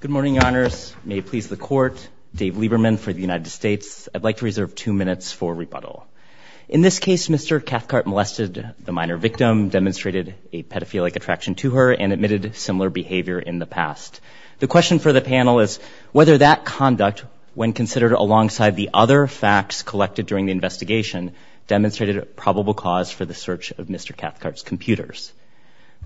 Good morning, your honors. May it please the court. Dave Lieberman for the United States. I'd like to reserve two minutes for rebuttal. In this case, Mr. Cathcart molested the minor victim, demonstrated a pedophilic attraction to her, and admitted similar behavior in the past. The question for the panel is whether that conduct, when considered alongside the other facts collected during the investigation, demonstrated a probable cause for the search of Mr. Cathcart's computers.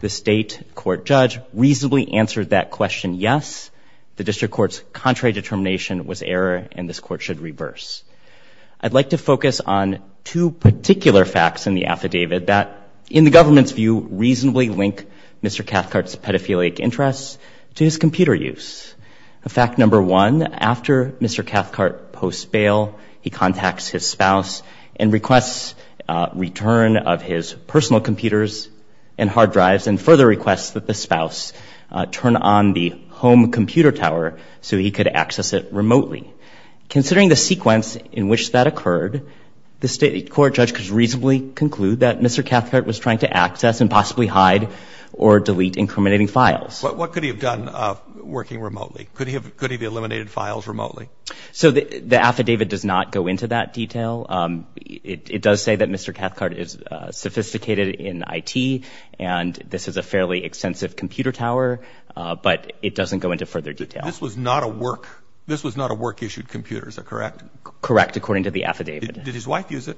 The state court judge reasonably answered that question yes. The district court's contrary determination was error, and this court should reverse. I'd like to focus on two particular facts in the affidavit that, in the government's view, reasonably link Mr. Cathcart's pedophilic interests to his computer use. Fact number one, after Mr. Cathcart posts bail, he contacts his spouse and requests return of his personal computers and hard drives, and further requests that the spouse turn on the home computer tower so he could access it remotely. Considering the sequence in which that occurred, the state court judge could reasonably conclude that Mr. Cathcart was trying to access and possibly hide or delete incriminating files. What could he have done working remotely? Could he have eliminated files remotely? So the affidavit does not go into that detail. It does say that Mr. Cathcart is sophisticated in IT, and this is a fairly extensive computer tower, but it doesn't go into further detail. This was not a work-issued computer, is that correct? Correct, according to the affidavit. Did his wife use it?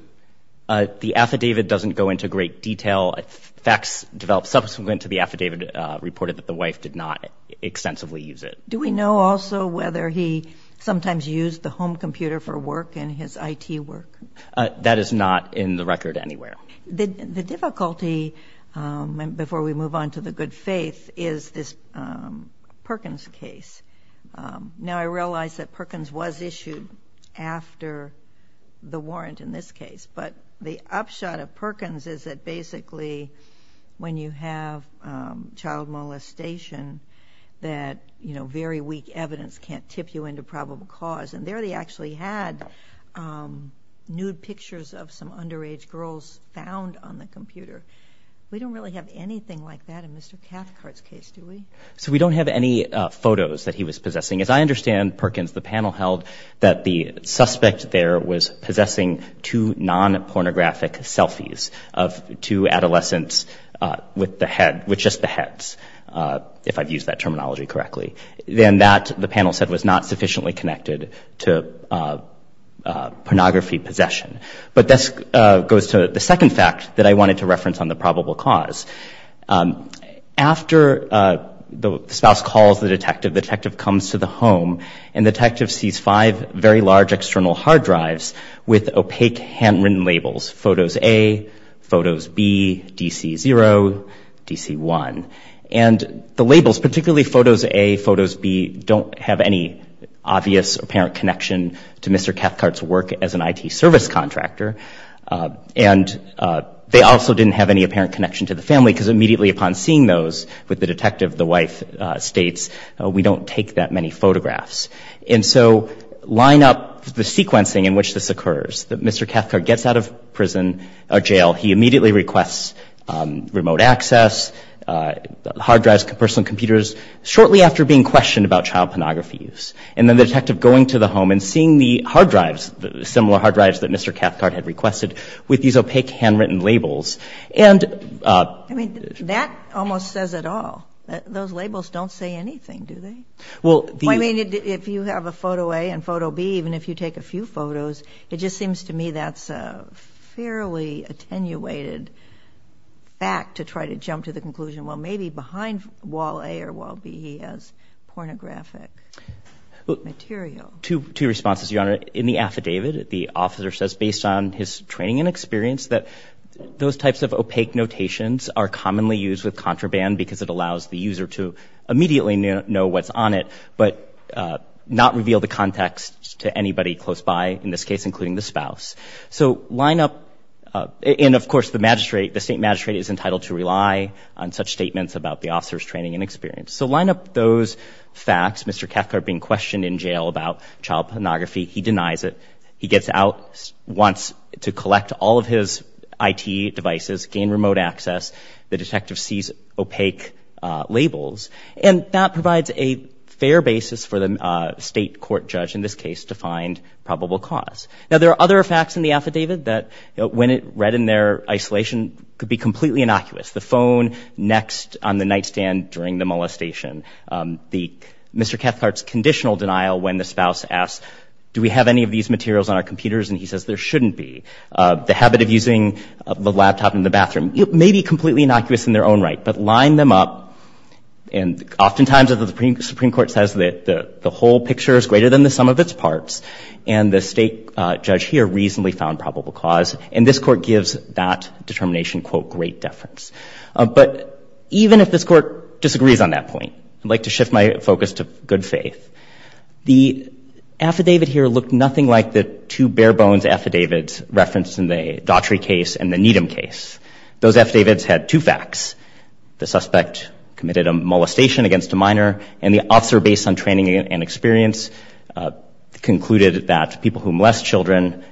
The affidavit doesn't go into great detail. Facts developed subsequent to the affidavit reported that the wife did not extensively use it. Do we know also whether he sometimes used the home computer for work and his IT work? That is not in the record anywhere. The difficulty, before we move on to the good faith, is this Perkins case. Now, I realize that Perkins was issued after the warrant in this case, but the upshot of Perkins is that basically when you have child molestation, that very weak evidence can't tip you into probable cause, and there they actually had nude pictures of some underage girls found on the computer. We don't really have anything like that in Mr. Cathcart's case, do we? So we don't have any photos that he was possessing. As I understand, Perkins, the panel held that the suspect there was possessing two non-pornographic selfies of two adolescents with the head, with just the heads, if I've used that terminology correctly. Then that, the panel said, was not sufficiently connected to pornography possession. But this goes to the second fact that I wanted to reference on the probable cause. After the spouse calls the detective, the detective comes to the home, and the detective sees five very large external hard drives with opaque handwritten labels, Photos A, Photos B, DC0, DC1. And the labels, particularly Photos A, Photos B, don't have any obvious apparent connection to Mr. Cathcart's work as an IT service contractor. And they also didn't have any apparent connection to the family, because immediately upon seeing those with the detective, the wife states, we don't take that many photographs. And so line up the sequencing in which this occurs, that Mr. Cathcart gets out of prison or jail, he immediately requests remote access, hard drives, personal computers, shortly after being questioned about child pornography use. And then the detective going to the home and seeing the hard drives, similar hard drives that Mr. Cathcart had requested with these opaque handwritten labels. I mean, that almost says it all. Those labels don't say anything, do they? Well, the- I mean, if you have a Photo A and Photo B, even if you take a few photos, it just seems to me that's a fairly attenuated fact to try to jump to the conclusion, well, maybe behind Wall A or Wall B, he has pornographic material. Two responses, Your Honor. In the affidavit, the officer says, based on his training and experience, that those types of opaque notations are commonly used with contraband because it allows the user to immediately know what's on it, but not reveal the context to anybody close by, in this case, including the spouse. So line up, and of course, the magistrate, the state magistrate is entitled to rely on such statements about the officer's training and experience. So line up those facts, Mr. Cathcart being questioned in jail about child pornography. He denies it. He gets out, wants to collect all of his IT devices, gain remote access. The detective sees opaque labels. And that provides a fair basis for the state court judge, in this case, to find probable cause. Now, there are other facts in the affidavit that, when read in their isolation, could be completely innocuous. The phone next on the nightstand during the molestation. Mr. Cathcart's conditional denial when the spouse asks, do we have any of these materials on our computers? And he says, there shouldn't be. The habit of using the laptop in the bathroom. It may be completely innocuous in their own right, but line them up. And oftentimes, the Supreme Court says that the whole picture is greater than the sum of its parts. And the state judge here reasonably found probable cause. And this court gives that determination, quote, great deference. But even if this court disagrees on that point, I'd like to shift my focus to good faith. The affidavit here looked nothing like the two bare bones affidavits referenced in the Daughtry case and the Needham case. Those affidavits had two facts. The suspect committed a molestation against a minor, and the officer, based on training and experience, concluded that people who molest children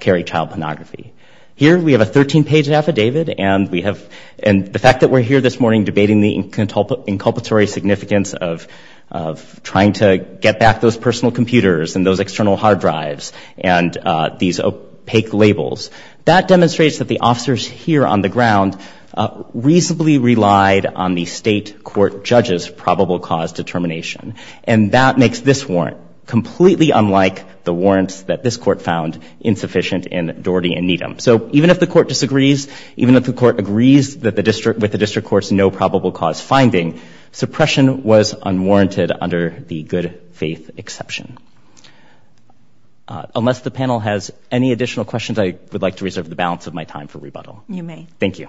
carry child pornography. Here, we have a 13-page affidavit, and the fact that we're here this morning debating the inculpatory significance of trying to get back those personal computers and those external hard drives and these opaque labels, that demonstrates that the officers here on the ground reasonably relied on the state court judges' probable cause determination. And that makes this warrant completely unlike the warrants that this court found insufficient in Daughtry and Needham. So even if the court disagrees, even if the court agrees with the district court's no probable cause finding, suppression was unwarranted under the good faith exception. Unless the panel has any additional questions, I would like to reserve the balance of my time for rebuttal. You may. Thank you.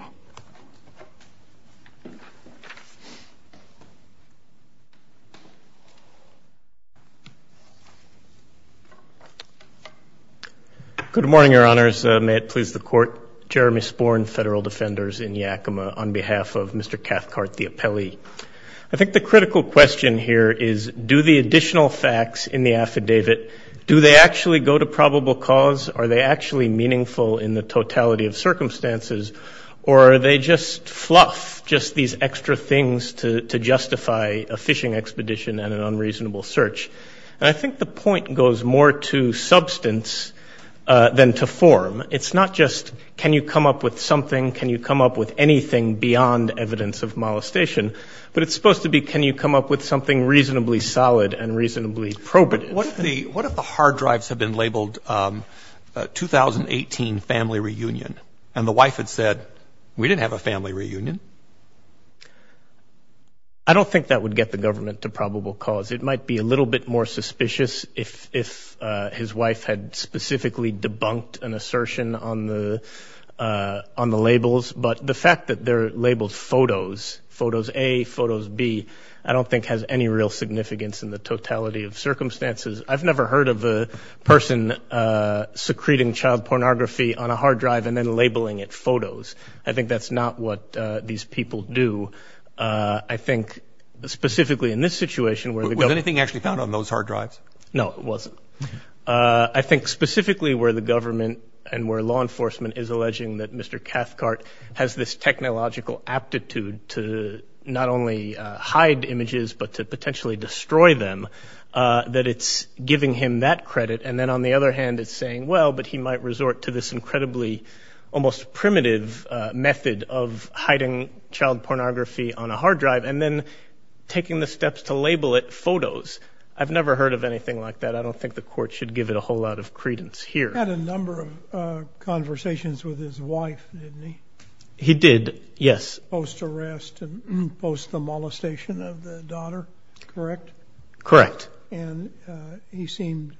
Good morning, Your Honors. May it please the court. Jeremy Sporn, Federal Defenders in Yakima, on behalf of Mr. Cathcart the Appellee. I think the critical question here is, do the additional facts in the affidavit, do they actually go to probable cause? Are they actually meaningful in the totality of circumstances? just these extra things to justify the fact that the court has not found by a fishing expedition and an unreasonable search. And I think the point goes more to substance than to form. It's not just, can you come up with something? Can you come up with anything beyond evidence of molestation? But it's supposed to be, can you come up with something reasonably solid and reasonably probative? What if the hard drives have been labeled 2018 family reunion, and the wife had said, we didn't have a family reunion? I don't think that would get the government to probable cause. It might be a little bit more suspicious if his wife had specifically debunked an assertion on the labels. But the fact that they're labeled photos, photos A, photos B, I don't think has any real significance in the totality of circumstances. I've never heard of a person secreting child pornography on a hard drive and then labeling it photos. I think that's not what the appellate court and these people do. I think specifically in this situation where the- Was anything actually found on those hard drives? No, it wasn't. I think specifically where the government and where law enforcement is alleging that Mr. Cathcart has this technological aptitude to not only hide images, but to potentially destroy them, that it's giving him that credit. And then on the other hand, it's saying, well, but he might resort to this incredibly almost primitive method of hiding child pornography on a hard drive and then taking the steps to label it photos. I've never heard of anything like that. I don't think the court should give it a whole lot of credence here. He had a number of conversations with his wife, didn't he? He did, yes. Post-arrest and post-molestation of the daughter, correct? Correct. And he seemed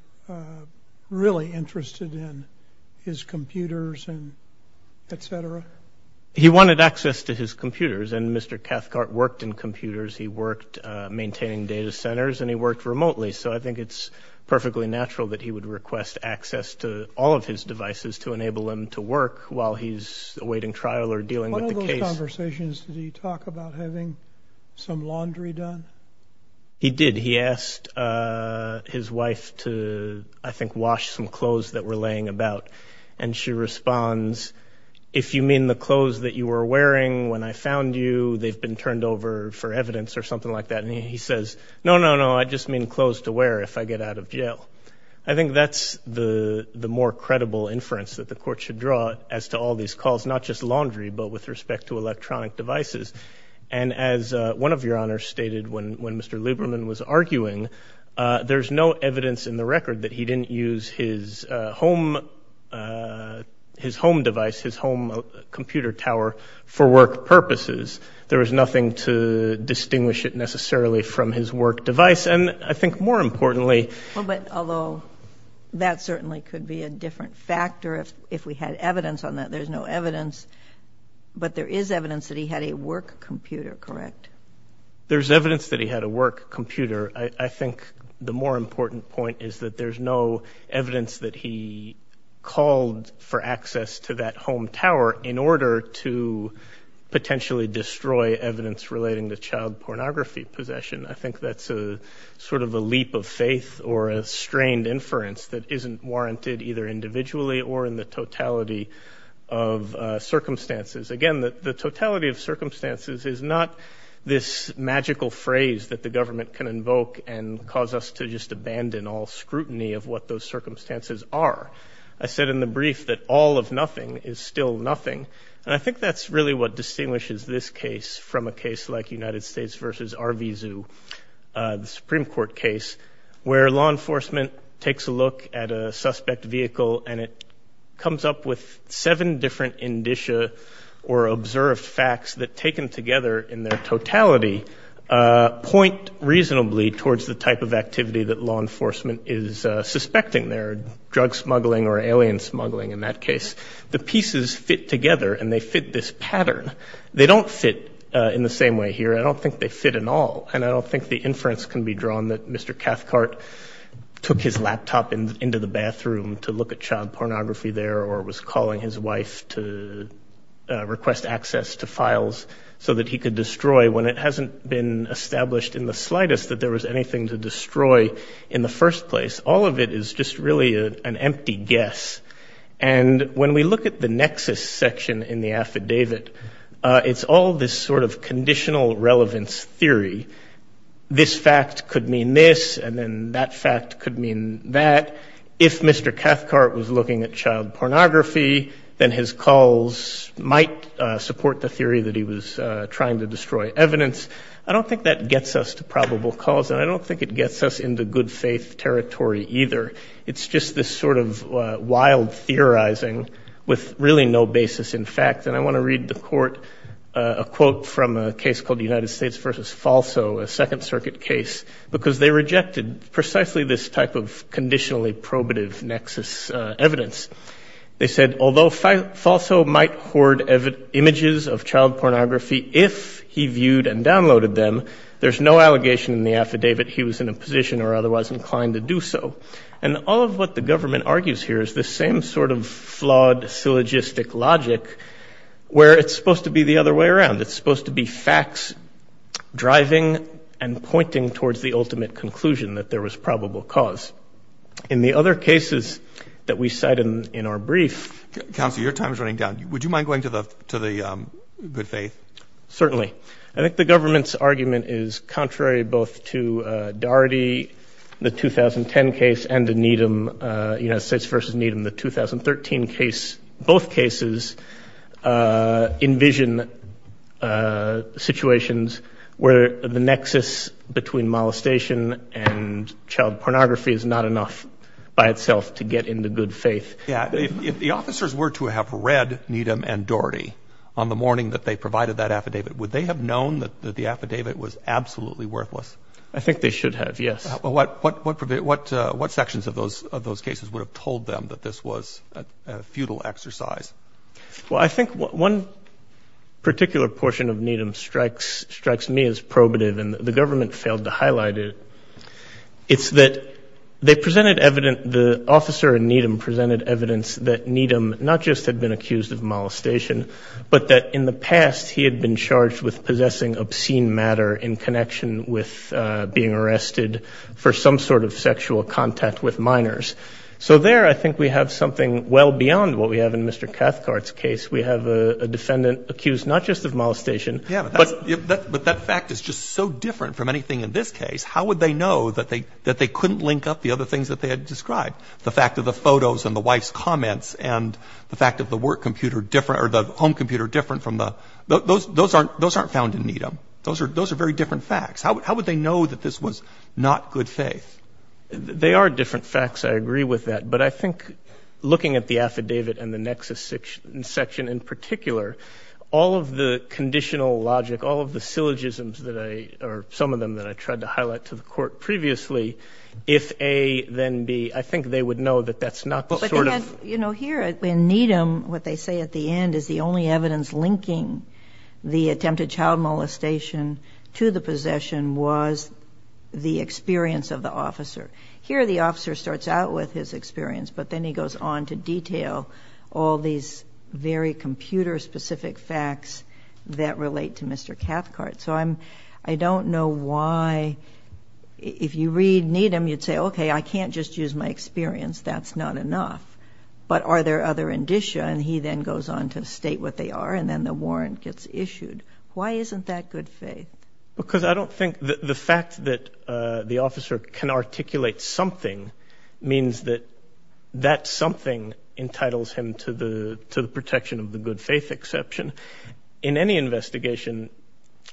really interested in his computers and et cetera. He wanted access to his computers and Mr. Cathcart worked in computers. He worked maintaining data centers and he worked remotely. So I think it's perfectly natural that he would request access to all of his devices to enable him to work while he's awaiting trial or dealing with the case. In one of those conversations, did he talk about having some laundry done? He did. He asked his wife to, I think, wash some clothes that were laying about. And she responds, if you mean the clothes that you were wearing when I found you, they've been turned over for evidence or something like that. And he says, no, no, no. I just mean clothes to wear if I get out of jail. I think that's the more credible inference that the court should draw as to all these calls, not just laundry, but with respect to electronic devices. And as one of your honors stated when Mr. Lieberman was arguing, there's no evidence in the record that he didn't use his home device, his home computer tower for work purposes. There was nothing to distinguish it necessarily from his work device. And I think more importantly- Well, but although that certainly could be a different factor if we had evidence on that, there's no evidence, but there is evidence that he had a work computer, correct? There's evidence that he had a work computer. I think the more important point is that there's no evidence that he called for access to that home tower in order to potentially destroy evidence relating to child pornography possession. I think that's a sort of a leap of faith or a strained inference that isn't warranted either individually or in the totality of circumstances. Again, the totality of circumstances is not this magical phrase that the government can invoke and cause us to just abandon all scrutiny of what those circumstances are. I said in the brief that all of nothing is still nothing. And I think that's really what distinguishes this case from a case like United States versus RV Zoo, the Supreme Court case, where law enforcement takes a look at a suspect vehicle and it comes up with seven different indicia or observed facts that taken together in their totality point reasonably towards the type of activity that law enforcement is suspecting there, drug smuggling or alien smuggling in that case. The pieces fit together and they fit this pattern. They don't fit in the same way here. I don't think they fit in all. And I don't think the inference can be drawn that Mr. Cathcart took his laptop into the bathroom to look at child pornography there or was calling his wife to request access to files so that he could destroy when it hasn't been established in the slightest that there was anything to destroy in the first place. All of it is just really an empty guess. And when we look at the nexus section in the affidavit, it's all this sort of conditional relevance theory. This fact could mean this, and then that fact could mean that. If Mr. Cathcart was looking at child pornography, then his calls might support the theory that he was trying to destroy evidence. I don't think that gets us to probable cause, and I don't think it gets us into good faith territory either. It's just this sort of wild theorizing with really no basis in fact. And I wanna read the court a quote from a case called the United States versus Falso, a second circuit case, because they rejected precisely this type of conditionally probative nexus evidence. They said, although Falso might hoard images of child pornography if he viewed and downloaded them, there's no allegation in the affidavit he was in a position or otherwise inclined to do so. And all of what the government argues here is the same sort of flawed syllogistic logic where it's supposed to be the other way around. It's supposed to be facts driving and pointing towards the ultimate conclusion that there was probable cause. In the other cases that we cite in our brief. Counselor, your time is running down. Would you mind going to the good faith? Certainly. I think the government's argument is contrary both to Daugherty, the 2010 case, and the Needham, United States versus Needham, the 2013 case. Both cases envision situations where the nexus between molestation and child pornography is not enough by itself to get into good faith. Yeah, if the officers were to have read Needham and Daugherty on the morning that they provided that affidavit, would they have known that the affidavit was absolutely worthless? I think they should have, yes. What sections of those cases would have told them that this was a futile exercise? Well, I think one particular portion of Needham strikes me as probative and the government failed to highlight it. It's that they presented evident, the officer in Needham presented evidence that Needham not just had been accused of molestation, but that in the past he had been charged with possessing obscene matter in connection with being arrested for some sort of sexual contact with minors. So there, I think we have something well beyond what we have in Mr. Cathcart's case. We have a defendant accused not just of molestation. Yeah, but that fact is just so different from anything in this case. How would they know that they couldn't link up the other things that they had described? The fact of the photos and the wife's comments and the fact of the work computer different or the home computer different from the, those aren't found in Needham. Those are very different facts. How would they know that this was not good faith? They are different facts, I agree with that. But I think looking at the affidavit and the nexus section in particular, all of the conditional logic, all of the syllogisms that I, or some of them that I tried to highlight to the court previously, if A, then B, I think they would know that that's not the sort of- You know, here in Needham, what they say at the end is the only evidence linking the attempted child molestation to the possession was the experience of the officer. Here, the officer starts out with his experience, but then he goes on to detail all these very computer specific facts that relate to Mr. Cathcart. So I'm, I don't know why, if you read Needham, you'd say, okay, I can't just use my experience, that's not enough. But are there other indicia? And he then goes on to state what they are, and then the warrant gets issued. Why isn't that good faith? Because I don't think the fact that the officer can articulate something means that that something entitles him to the protection of the good faith exception. In any investigation,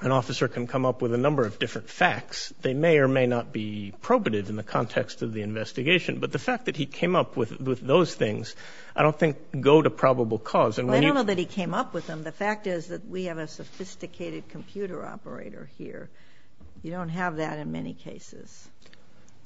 an officer can come up with a number of different facts. They may or may not be probative in the context of the investigation. But the fact that he came up with those things, I don't think go to probable cause. And when you- I don't know that he came up with them. The fact is that we have a sophisticated computer operator here. You don't have that in many cases.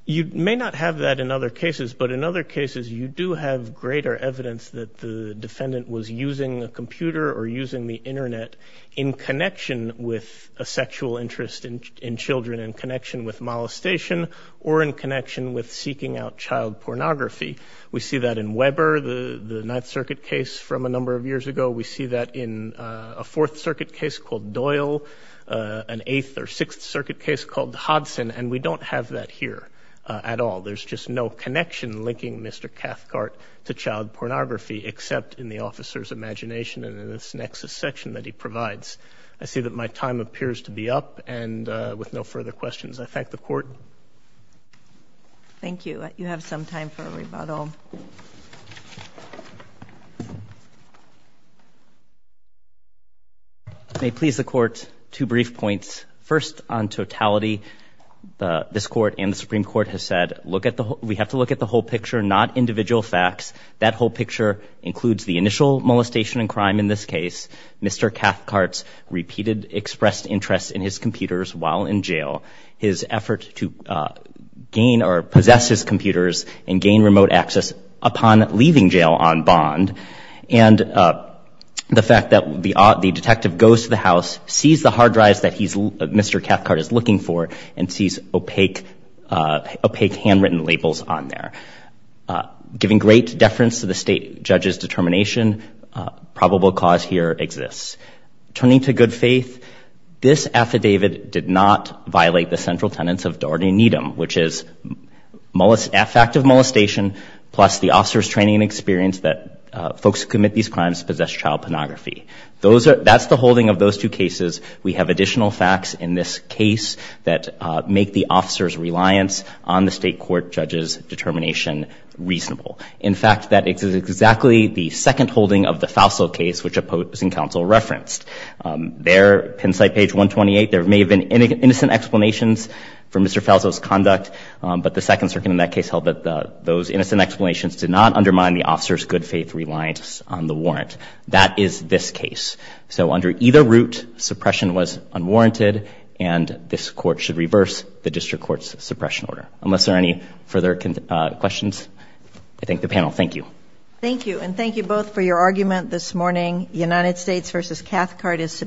You may not have that in other cases, but in other cases, you do have greater evidence that the defendant was using a computer or using the internet in connection with a sexual interest in children in connection with molestation or in connection with seeking out child pornography. We see that in Weber, the Ninth Circuit case from a number of years ago. We see that in a Fourth Circuit case called Doyle, an Eighth or Sixth Circuit case called Hodson. And we don't have that here at all. to child pornography except in the officer's imagination and in this nexus section that he provides. I see that my time appears to be up and with no further questions, I thank the court. Thank you. You have some time for a rebuttal. May please the court, two brief points. First on totality, this court and the Supreme Court has said, we have to look at the whole picture, not individual facts. That whole picture includes the initial molestation and crime in this case, Mr. Cathcart's repeated expressed interest in his computers while in jail, his effort to gain or possess his computers and gain remote access upon leaving jail on bond. And the fact that the detective goes to the house, sees the hard drives that Mr. Cathcart is looking for and sees opaque handwritten labels on there. Giving great deference to the state judge's determination, probable cause here exists. Turning to good faith, this affidavit did not violate the central tenets of Doordi Needham, which is affective molestation, plus the officer's training and experience that folks who commit these crimes possess child pornography. That's the holding of those two cases. We have additional facts in this case that make the officer's reliance on the state court judge's determination reasonable. In fact, that is exactly the second holding of the Fauso case, which opposing counsel referenced. There, pin site page 128, there may have been innocent explanations for Mr. Fauso's conduct, but the second circuit in that case held that those innocent explanations did not undermine the officer's good faith reliance on the warrant. That is this case. So under either route, suppression was unwarranted and this court should reverse the district court's suppression order. Unless there are any further questions, I thank the panel. Thank you. Thank you, and thank you both for your argument this morning. United States versus Cathcart is.